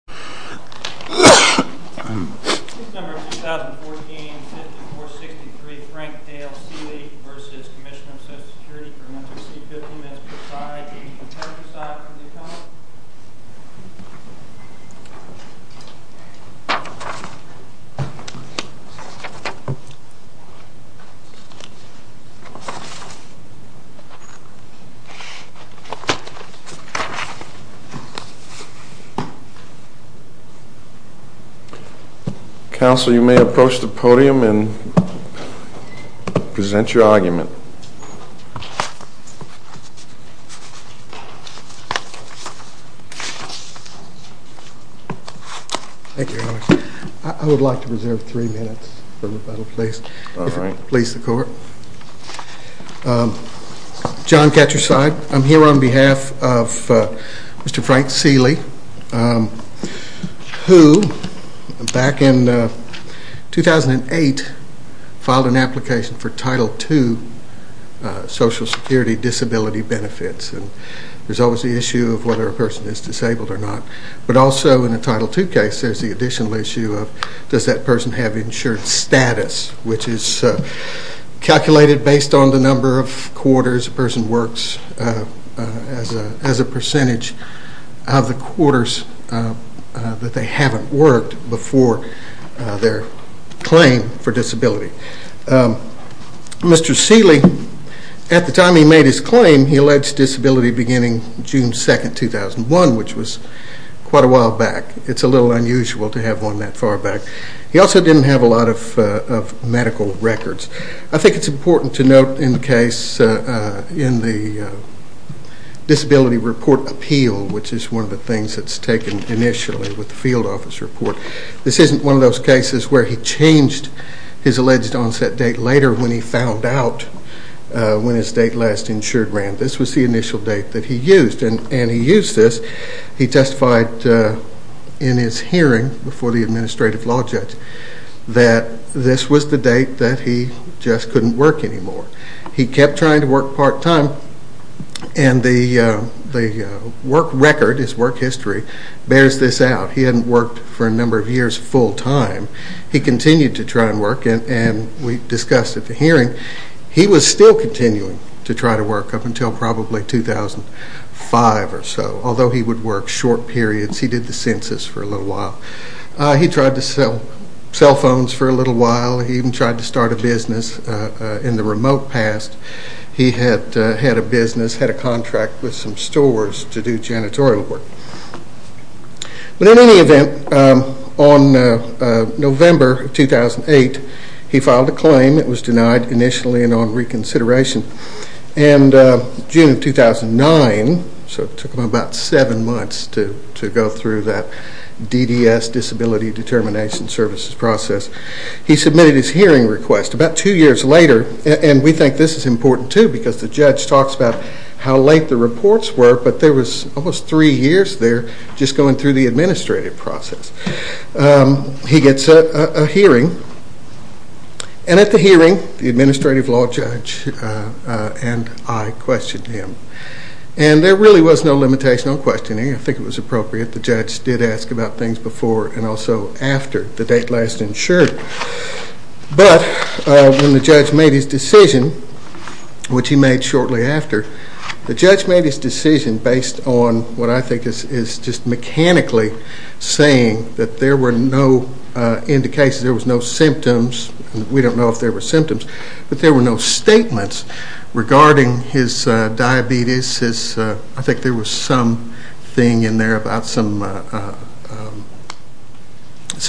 for a monthly fee of $15 per side, $80 per purchase side for the account. Counsel, you may approach the podium and present your argument. Thank you, Your Honor. I would like to reserve three minutes for rebuttal, please. All right. Please, the Court. John Ketcherside, I'm here on behalf of Mr. Frank Seeley, who, back in 2008, filed an application for Title II Social Security disability benefits. There's always the issue of whether a person is disabled or not, but also in a Title II case there's the additional issue of does that person have insured status, which is calculated based on the number of quarters a person works as a percentage of the quarters that they haven't worked before their claim for disability. Mr. Seeley, at the time he made his claim, he alleged disability beginning June 2, 2001, which was quite a while back. It's a little unusual to have one that far back. He also didn't have a lot of medical records. I think it's important to note in the case in the disability report appeal, which is one of the things that's taken initially with the field office report, this isn't one of those cases where he changed his alleged onset date later when he found out when his date last insured ran. This was the initial date that he used, and he used this. He testified in his hearing before the administrative law judge that this was the date that he just couldn't work anymore. He kept trying to work part-time, and the work record, his work history, bears this out. He hadn't worked for a number of years full-time. He continued to try and work, and we discussed at the hearing, he was still continuing to try to work up until probably 2005 or so, although he would work short periods. He did the census for a little while. He tried to sell cell phones for a little while. He even tried to start a business in the remote past. He had a business, had a contract with some stores to do janitorial work. But in any event, on November 2008, he filed a claim. It was denied initially and on reconsideration. In June of 2009, so it took him about seven months to go through that DDS, Disability Determination Services process, he submitted his hearing request. About two years later, and we think this is important too because the judge talks about how late the reports were, but there was almost three years there just going through the administrative process. He gets a hearing, and at the hearing, the administrative law judge and I questioned him. And there really was no limitation on questioning. I think it was appropriate. The judge did ask about things before and also after the date last insured. But when the judge made his decision, which he made shortly after, the judge made his decision based on what I think is just mechanically saying that there were no indications, there was no symptoms. We don't know if there were symptoms. But there were no statements regarding his diabetes. I think there was something in there about some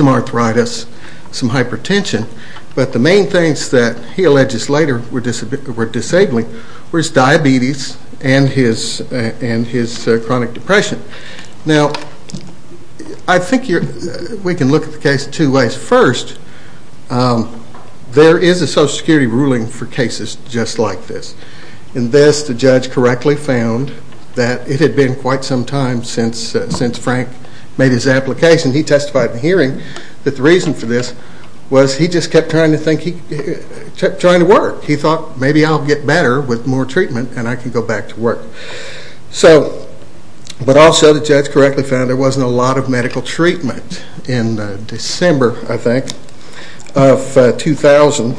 arthritis, some hypertension. But the main things that he alleges later were disabling was diabetes and his chronic depression. Now, I think we can look at the case two ways. First, there is a Social Security ruling for cases just like this. In this, the judge correctly found that it had been quite some time since Frank made his application. He testified in the hearing that the reason for this was he just kept trying to work. He thought, maybe I'll get better with more treatment, and I can go back to work. But also the judge correctly found there wasn't a lot of medical treatment. In December, I think, of 2000,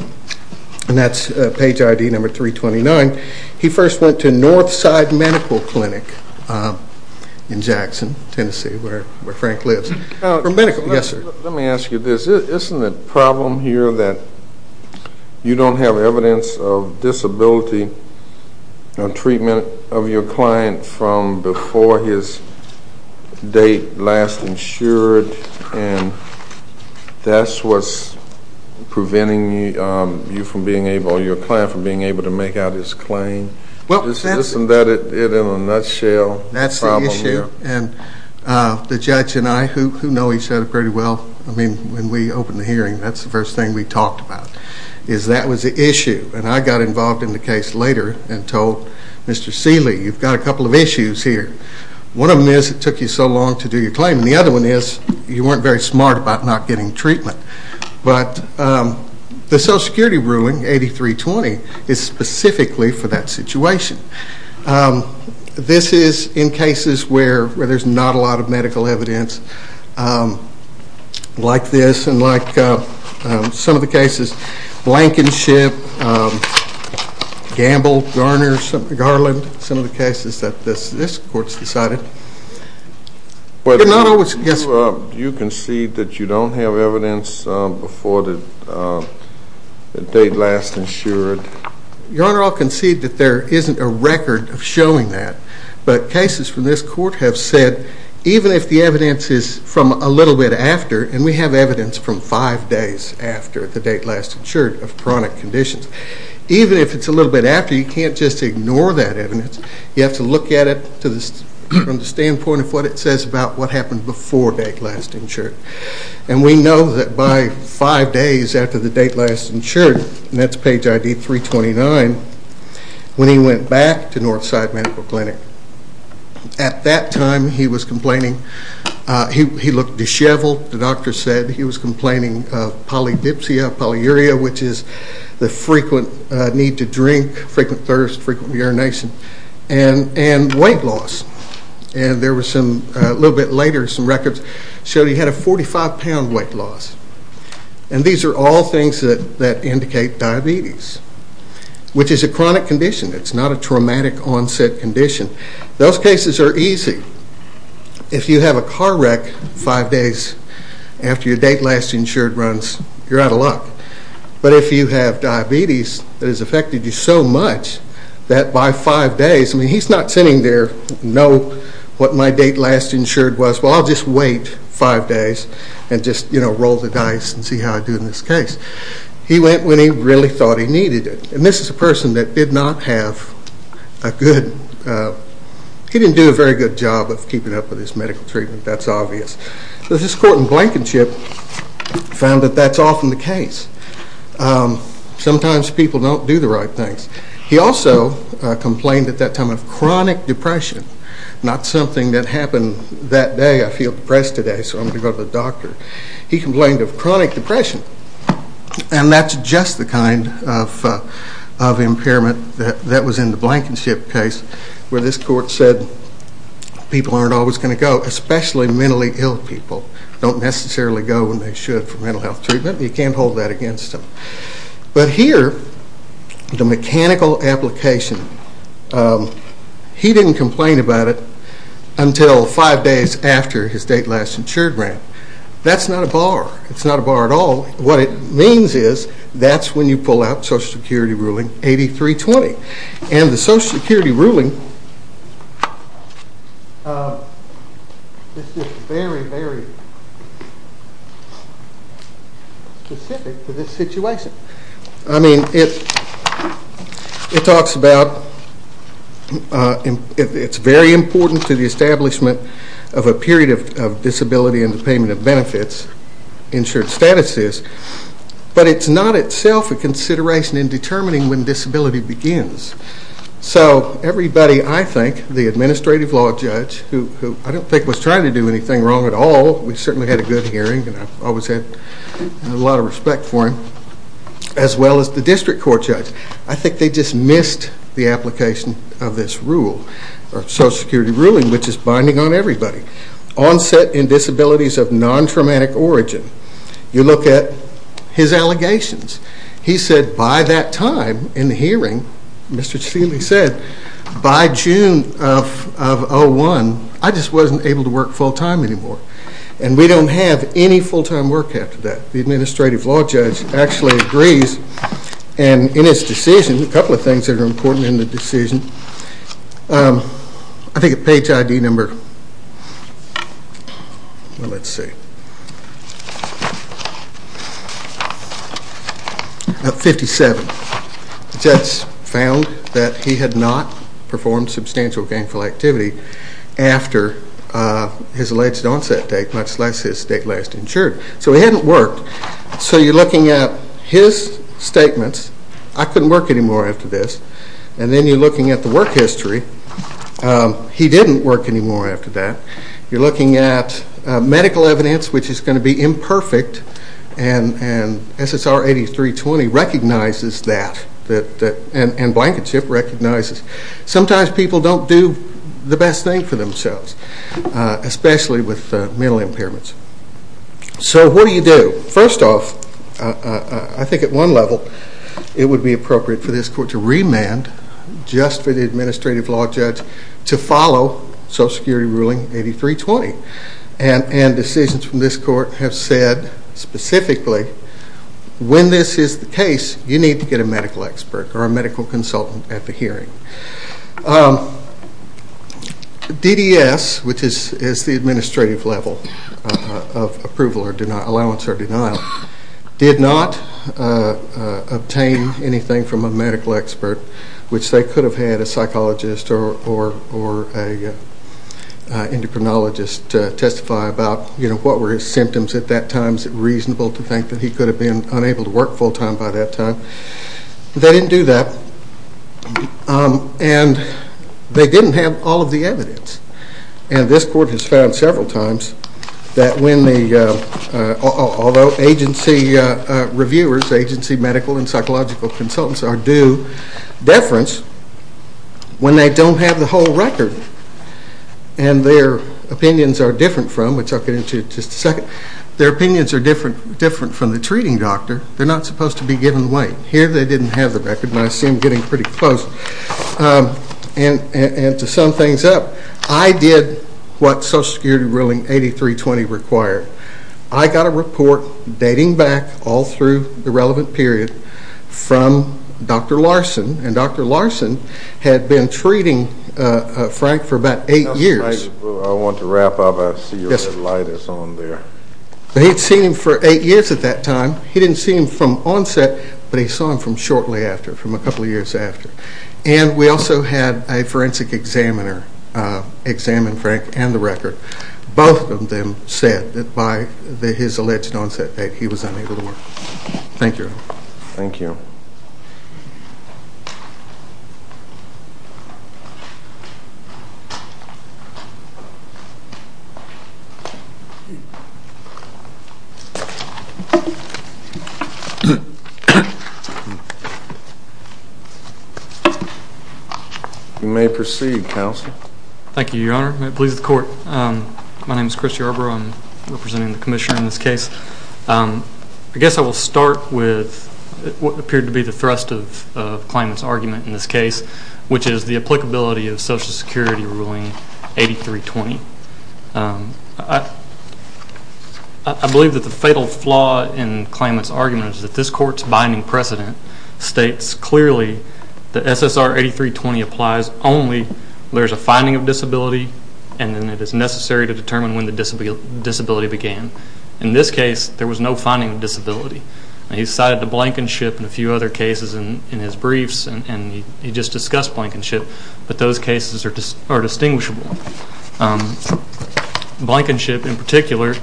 and that's page ID number 329, he first went to Northside Medical Clinic in Jackson, Tennessee, where Frank lives. Let me ask you this. Isn't the problem here that you don't have evidence of disability or treatment of your client from before his date last insured, and that's what's preventing you or your client from being able to make out his claim? Isn't that it in a nutshell? That's the issue, and the judge and I, who know each other pretty well, I mean, when we opened the hearing, that's the first thing we talked about, is that was the issue, and I got involved in the case later and told Mr. Seeley, you've got a couple of issues here. One of them is it took you so long to do your claim, and the other one is you weren't very smart about not getting treatment. But the Social Security ruling, 8320, is specifically for that situation. This is in cases where there's not a lot of medical evidence like this and like some of the cases, Blankenship, Gamble, Garner, Garland, some of the cases that this court's decided. You concede that you don't have evidence before the date last insured? Your Honor, I'll concede that there isn't a record of showing that, but cases from this court have said even if the evidence is from a little bit after, and we have evidence from five days after the date last insured of chronic conditions, even if it's a little bit after, you can't just ignore that evidence. You have to look at it from the standpoint of what it says about what happened before date last insured. And we know that by five days after the date last insured, and that's page ID 329, when he went back to Northside Medical Clinic, at that time he was complaining. He looked disheveled. The doctor said he was complaining of polydipsia, polyuria, which is the frequent need to drink, frequent thirst, frequent urination, and weight loss. And there was some, a little bit later, some records showed he had a 45-pound weight loss. And these are all things that indicate diabetes, which is a chronic condition. It's not a traumatic onset condition. Those cases are easy. If you have a car wreck five days after your date last insured runs, you're out of luck. But if you have diabetes that has affected you so much that by five days, I mean, he's not sitting there, no, what my date last insured was, well, I'll just wait five days and just, you know, roll the dice and see how I do in this case. He went when he really thought he needed it. And this is a person that did not have a good, he didn't do a very good job of keeping up with his medical treatment. That's obvious. But this court in Blankenship found that that's often the case. Sometimes people don't do the right things. He also complained at that time of chronic depression, not something that happened that day. I feel depressed today, so I'm going to go to the doctor. He complained of chronic depression, and that's just the kind of impairment that was in the Blankenship case where this court said people aren't always going to go, especially mentally ill people. They don't necessarily go when they should for mental health treatment. You can't hold that against them. But here, the mechanical application, he didn't complain about it until five days after his date last insured ran. That's not a bar. It's not a bar at all. What it means is that's when you pull out Social Security ruling 8320. And the Social Security ruling is very, very specific to this situation. I mean, it talks about it's very important to the establishment of a period of disability and the payment of benefits, insured status is. But it's not itself a consideration in determining when disability begins. So everybody, I think, the administrative law judge, who I don't think was trying to do anything wrong at all, we certainly had a good hearing, and I've always had a lot of respect for him, as well as the district court judge. I think they just missed the application of this rule, or Social Security ruling, which is binding on everybody. Onset in disabilities of non-traumatic origin. You look at his allegations. He said by that time in the hearing, Mr. Steeley said, by June of 2001, I just wasn't able to work full-time anymore. And we don't have any full-time work after that. The administrative law judge actually agrees, and in his decision, a couple of things that are important in the decision. I think page ID number, let's see, 57. The judge found that he had not performed substantial gainful activity after his alleged onset date, much less his date last insured. So he hadn't worked. So you're looking at his statements, I couldn't work anymore after this. And then you're looking at the work history. He didn't work anymore after that. You're looking at medical evidence, which is going to be imperfect. And SSR 8320 recognizes that, and Blankenship recognizes. Sometimes people don't do the best thing for themselves, especially with mental impairments. So what do you do? First off, I think at one level, it would be appropriate for this court to remand just for the administrative law judge to follow SSR 8320. And decisions from this court have said specifically, when this is the case, you need to get a medical expert or a medical consultant at the hearing. DDS, which is the administrative level of approval or allowance or denial, did not obtain anything from a medical expert, which they could have had a psychologist or an endocrinologist testify about what were his symptoms at that time. Is it reasonable to think that he could have been unable to work full time by that time? They didn't do that. And they didn't have all of the evidence. And this court has found several times that when the agency reviewers, agency medical and psychological consultants are due deference, when they don't have the whole record and their opinions are different from, which I'll get into in just a second, their opinions are different from the treating doctor. They're not supposed to be given away. Here they didn't have the record, and I see them getting pretty close. And to sum things up, I did what SSR 8320 required. I got a report dating back all through the relevant period from Dr. Larson, and Dr. Larson had been treating Frank for about eight years. I want to wrap up. I see your light is on there. He had seen him for eight years at that time. He didn't see him from onset, but he saw him from shortly after, from a couple of years after. And we also had a forensic examiner examine Frank and the record. Both of them said that by his alleged onset date he was unable to work. Thank you. Thank you. Thank you. You may proceed, counsel. Thank you, Your Honor. It pleases the court. My name is Chris Yarbrough. I'm representing the commissioner in this case. I guess I will start with what appeared to be the thrust of the claimant's argument in this case, which is the applicability of Social Security Ruling 8320. I believe that the fatal flaw in the claimant's argument is that this court's binding precedent states clearly that SSR 8320 applies only when there is a finding of disability, and then it is necessary to determine when the disability began. In this case, there was no finding of disability. He cited the Blankenship and a few other cases in his briefs, and he just discussed Blankenship, but those cases are distinguishable. Blankenship, in particular,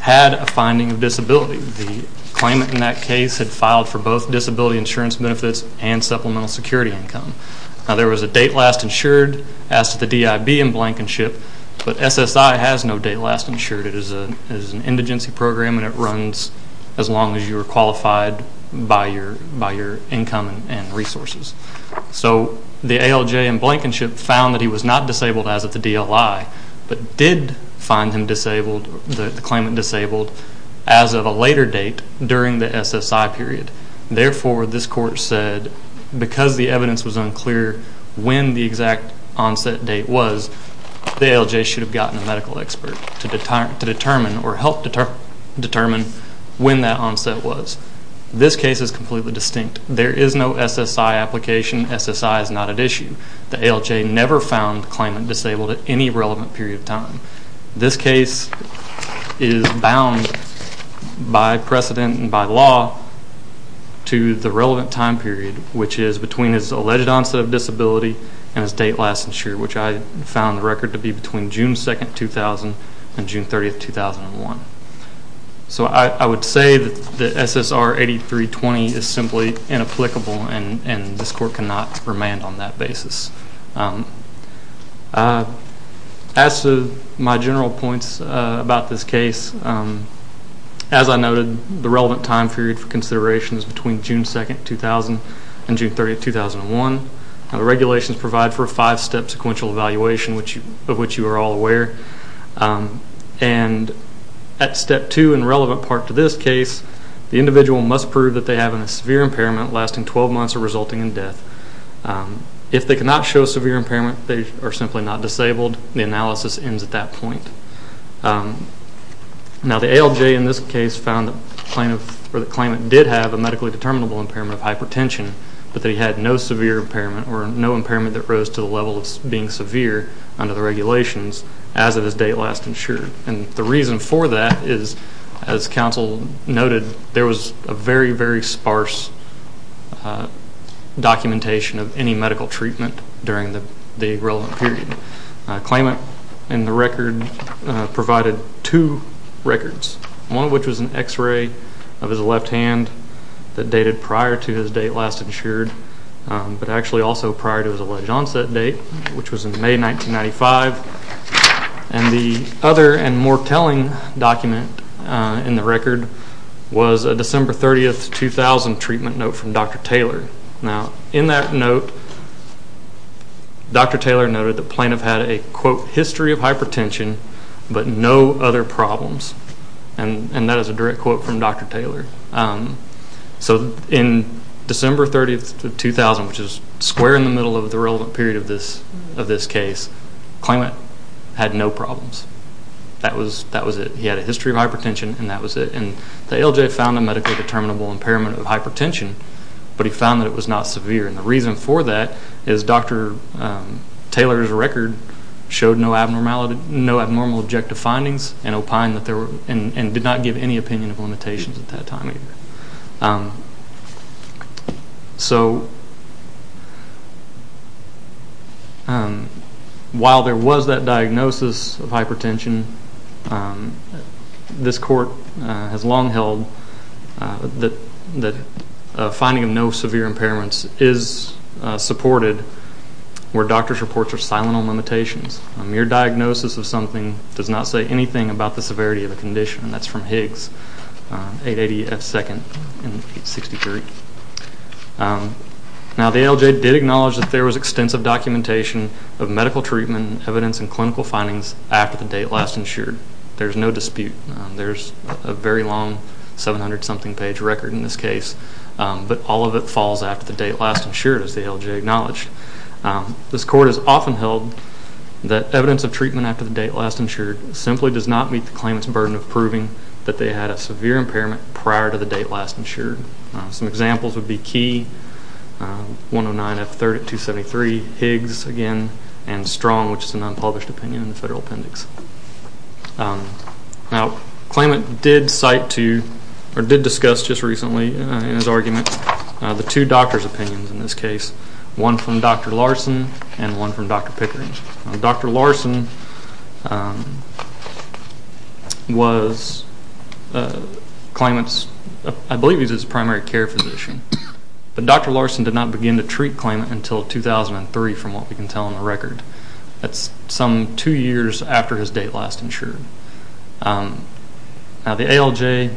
had a finding of disability. The claimant in that case had filed for both disability insurance benefits and supplemental security income. Now, there was a date last insured as to the DIB in Blankenship, but SSI has no date last insured. It is an indigency program, and it runs as long as you are qualified by your income and resources. So the ALJ in Blankenship found that he was not disabled as of the DLI, but did find him disabled, the claimant disabled, as of a later date during the SSI period. Therefore, this court said because the evidence was unclear when the exact onset date was, the ALJ should have gotten a medical expert to determine or help determine when that onset was. This case is completely distinct. There is no SSI application. SSI is not at issue. The ALJ never found the claimant disabled at any relevant period of time. This case is bound by precedent and by law to the relevant time period, which is between his alleged onset of disability and his date last insured, which I found the record to be between June 2, 2000 and June 30, 2001. So I would say that SSR 8320 is simply inapplicable, and this court cannot remand on that basis. As to my general points about this case, as I noted, the relevant time period for consideration is between June 2, 2000 and June 30, 2001. The regulations provide for a five-step sequential evaluation of which you are all aware. And at step two in the relevant part to this case, the individual must prove that they have a severe impairment lasting 12 months or resulting in death. If they cannot show severe impairment, they are simply not disabled. The analysis ends at that point. Now the ALJ in this case found the claimant did have a medically determinable impairment of hypertension, but that he had no severe impairment or no impairment that rose to the level of being severe under the regulations as of his date last insured. And the reason for that is, as counsel noted, there was a very, very sparse documentation of any medical treatment during the relevant period. The claimant in the record provided two records, one of which was an x-ray of his left hand that dated prior to his date last insured, but actually also prior to his alleged onset date, which was in May 1995. And the other and more telling document in the record was a December 30, 2000 treatment note from Dr. Taylor. Now in that note, Dr. Taylor noted the plaintiff had a, quote, and that is a direct quote from Dr. Taylor. So in December 30, 2000, which is square in the middle of the relevant period of this case, the claimant had no problems. That was it. He had a history of hypertension and that was it. And the ALJ found a medically determinable impairment of hypertension, but he found that it was not severe. And the reason for that is Dr. Taylor's record showed no abnormal objective findings and did not give any opinion of limitations at that time either. So while there was that diagnosis of hypertension, this court has long held that finding of no severe impairments is supported where doctors' reports are silent on limitations. A mere diagnosis of something does not say anything about the severity of the condition. And that's from Higgs, 880 F. 2nd and 863. Now the ALJ did acknowledge that there was extensive documentation of medical treatment, evidence, and clinical findings after the date last insured. There's no dispute. There's a very long 700-something page record in this case, but all of it falls after the date last insured, as the ALJ acknowledged. This court has often held that evidence of treatment after the date last insured simply does not meet the claimant's burden of proving that they had a severe impairment prior to the date last insured. Some examples would be Key, 109 F. 3rd at 273, Higgs again, and Strong, which is an unpublished opinion in the federal appendix. Now the claimant did discuss just recently in his argument the two doctors' opinions in this case, one from Dr. Larson and one from Dr. Pickering. Dr. Larson was claimant's, I believe he was his primary care physician, but Dr. Larson did not begin to treat claimant until 2003 from what we can tell in the record. That's some two years after his date last insured. Now the ALJ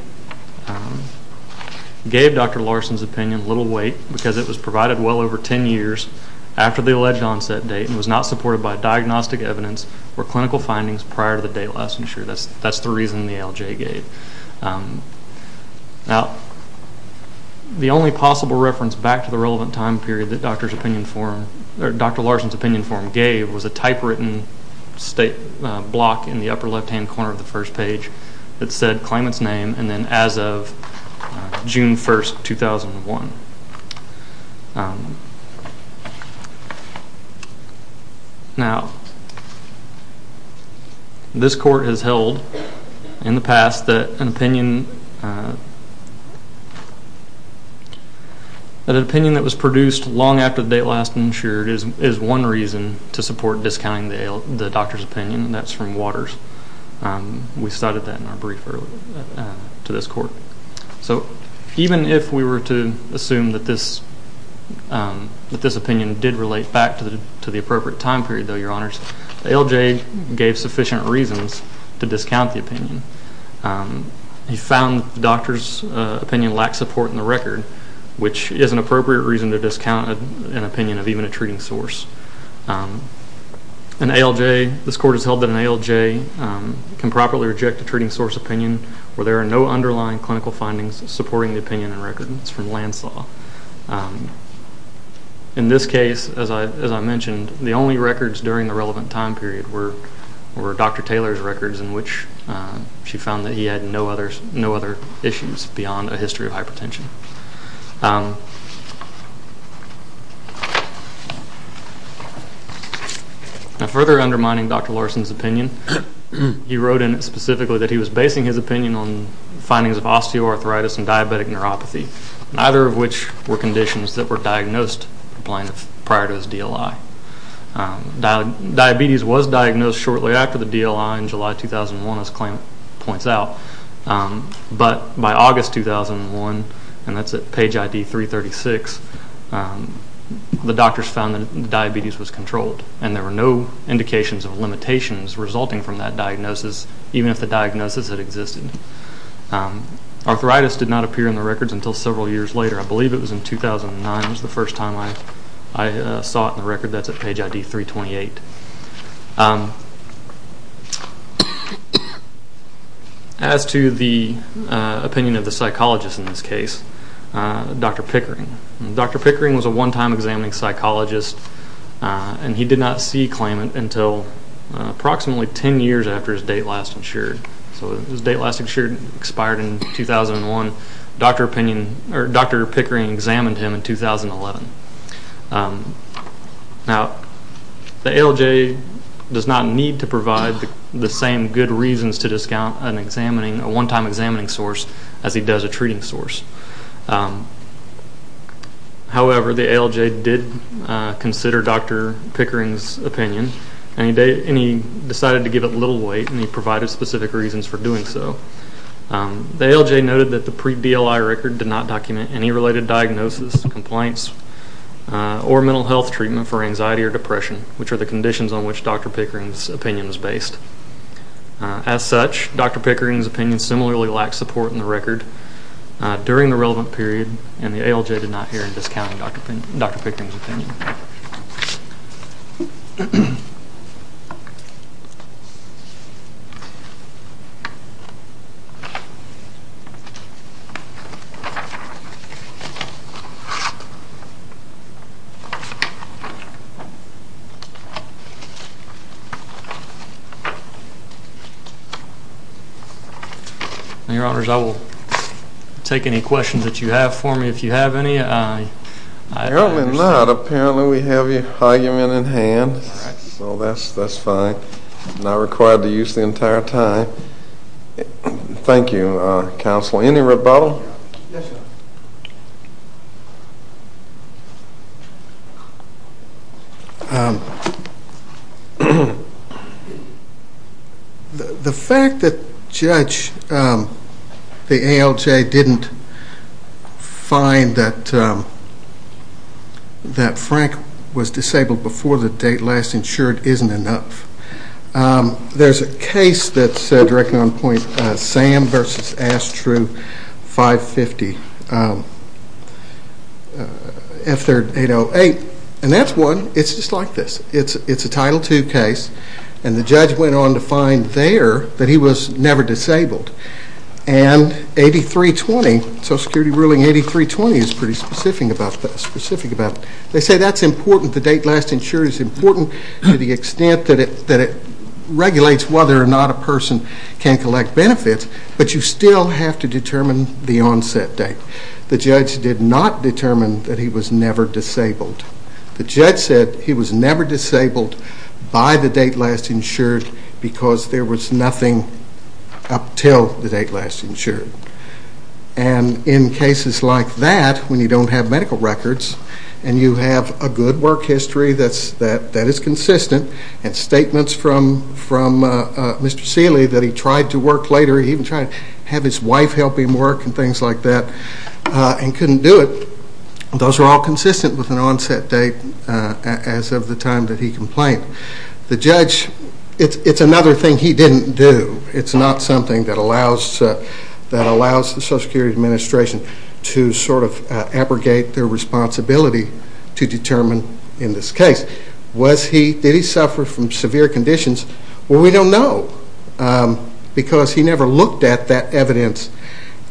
gave Dr. Larson's opinion little weight because it was provided well over 10 years after the alleged onset date and was not supported by diagnostic evidence or clinical findings prior to the date last insured. That's the reason the ALJ gave. Now the only possible reference back to the relevant time period that Dr. Larson's opinion form gave was a typewritten state block in the upper left-hand corner of the first page that said claimant's name and then as of June 1, 2001. Now this court has held in the past that an opinion that was produced long after the date last insured is one reason to support discounting the doctor's opinion, and that's from Waters. We cited that in our brief earlier to this court. So even if we were to assume that this opinion did relate back to the appropriate time period, the ALJ gave sufficient reasons to discount the opinion. He found the doctor's opinion lacked support in the record, which is an appropriate reason to discount an opinion of even a treating source. This court has held that an ALJ can properly reject a treating source opinion where there are no underlying clinical findings supporting the opinion in record. It's from Landslaw. In this case, as I mentioned, the only records during the relevant time period were Dr. Taylor's records in which she found that he had no other issues beyond a history of hypertension. Further undermining Dr. Larson's opinion, he wrote in it specifically that he was basing his opinion on findings of osteoarthritis and diabetic neuropathy, neither of which were conditions that were diagnosed prior to his DLI. Diabetes was diagnosed shortly after the DLI in July 2001, as the claimant points out, but by August 2001, and that's at page ID 336, the doctors found that diabetes was controlled and there were no indications of limitations resulting from that diagnosis, even if the diagnosis had existed. Arthritis did not appear in the records until several years later. I believe it was in 2009 was the first time I saw it in the record. That's at page ID 328. As to the opinion of the psychologist in this case, Dr. Pickering. Dr. Pickering was a one-time examining psychologist, and he did not see claimant until approximately 10 years after his date last insured. His date last insured expired in 2001. Dr. Pickering examined him in 2011. Now, the ALJ does not need to provide the same good reasons to discount a one-time examining source as he does a treating source. However, the ALJ did consider Dr. Pickering's opinion, and he decided to give it little weight and he provided specific reasons for doing so. The ALJ noted that the pre-DLI record did not document any related diagnosis, complaints, or mental health treatment for anxiety or depression, which are the conditions on which Dr. Pickering's opinion is based. As such, Dr. Pickering's opinion similarly lacked support in the record during the relevant period, and the ALJ did not hear in discounting Dr. Pickering's opinion. Thank you. Your Honors, I will take any questions that you have for me. If you have any, I understand. If not, apparently we have your argument in hand, so that's fine. I'm not required to use the entire time. Thank you, Counsel. Yes, Your Honors. The fact that Judge, the ALJ, didn't find that Frank was disabled before the date last insured isn't enough. There's a case that's directly on point, Sam v. Astru, 550. And that's one. It's just like this. It's a Title II case, and the judge went on to find there that he was never disabled. And Social Security ruling 8320 is pretty specific about this. They say that's important. The date last insured is important to the extent that it regulates whether or not a person can collect benefits, but you still have to determine the onset date. The judge did not determine that he was never disabled. The judge said he was never disabled by the date last insured because there was nothing up until the date last insured. And in cases like that, when you don't have medical records, and you have a good work history that is consistent, and statements from Mr. Seeley that he tried to work later, he even tried to have his wife help him work and things like that, and couldn't do it, those are all consistent with an onset date as of the time that he complained. The judge, it's another thing he didn't do. It's not something that allows the Social Security Administration to sort of abrogate their responsibility to determine in this case. Did he suffer from severe conditions? Well, we don't know. Because he never looked at that evidence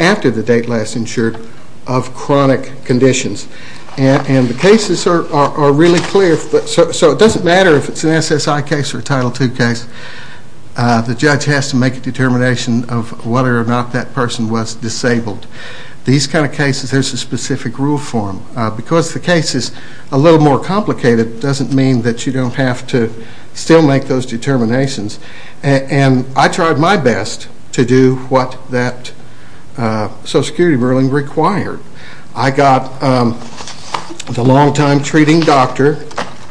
after the date last insured of chronic conditions. And the cases are really clear. So it doesn't matter if it's an SSI case or a Title II case. The judge has to make a determination of whether or not that person was disabled. These kind of cases, there's a specific rule for them. Because the case is a little more complicated, it doesn't mean that you don't have to still make those determinations. And I tried my best to do what that Social Security ruling required. I got the longtime treating doctor,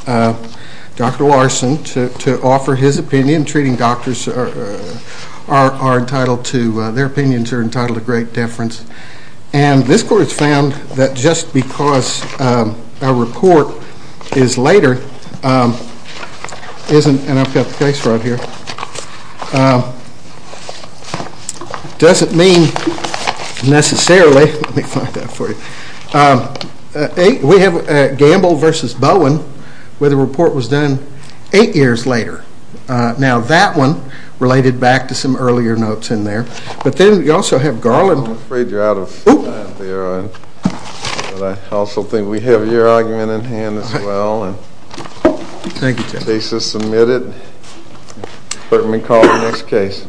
Dr. Larson, to offer his opinion. Treating doctors are entitled to great deference. And this court has found that just because a report is later, and I've got the case right here, doesn't mean necessarily, let me find that for you. We have Gamble v. Bowen where the report was done eight years later. Now that one related back to some earlier notes in there. But then we also have Garland. I'm afraid you're out of time there. But I also think we have your argument in hand as well. Thank you, Judge. The case is submitted. Let me call the next case.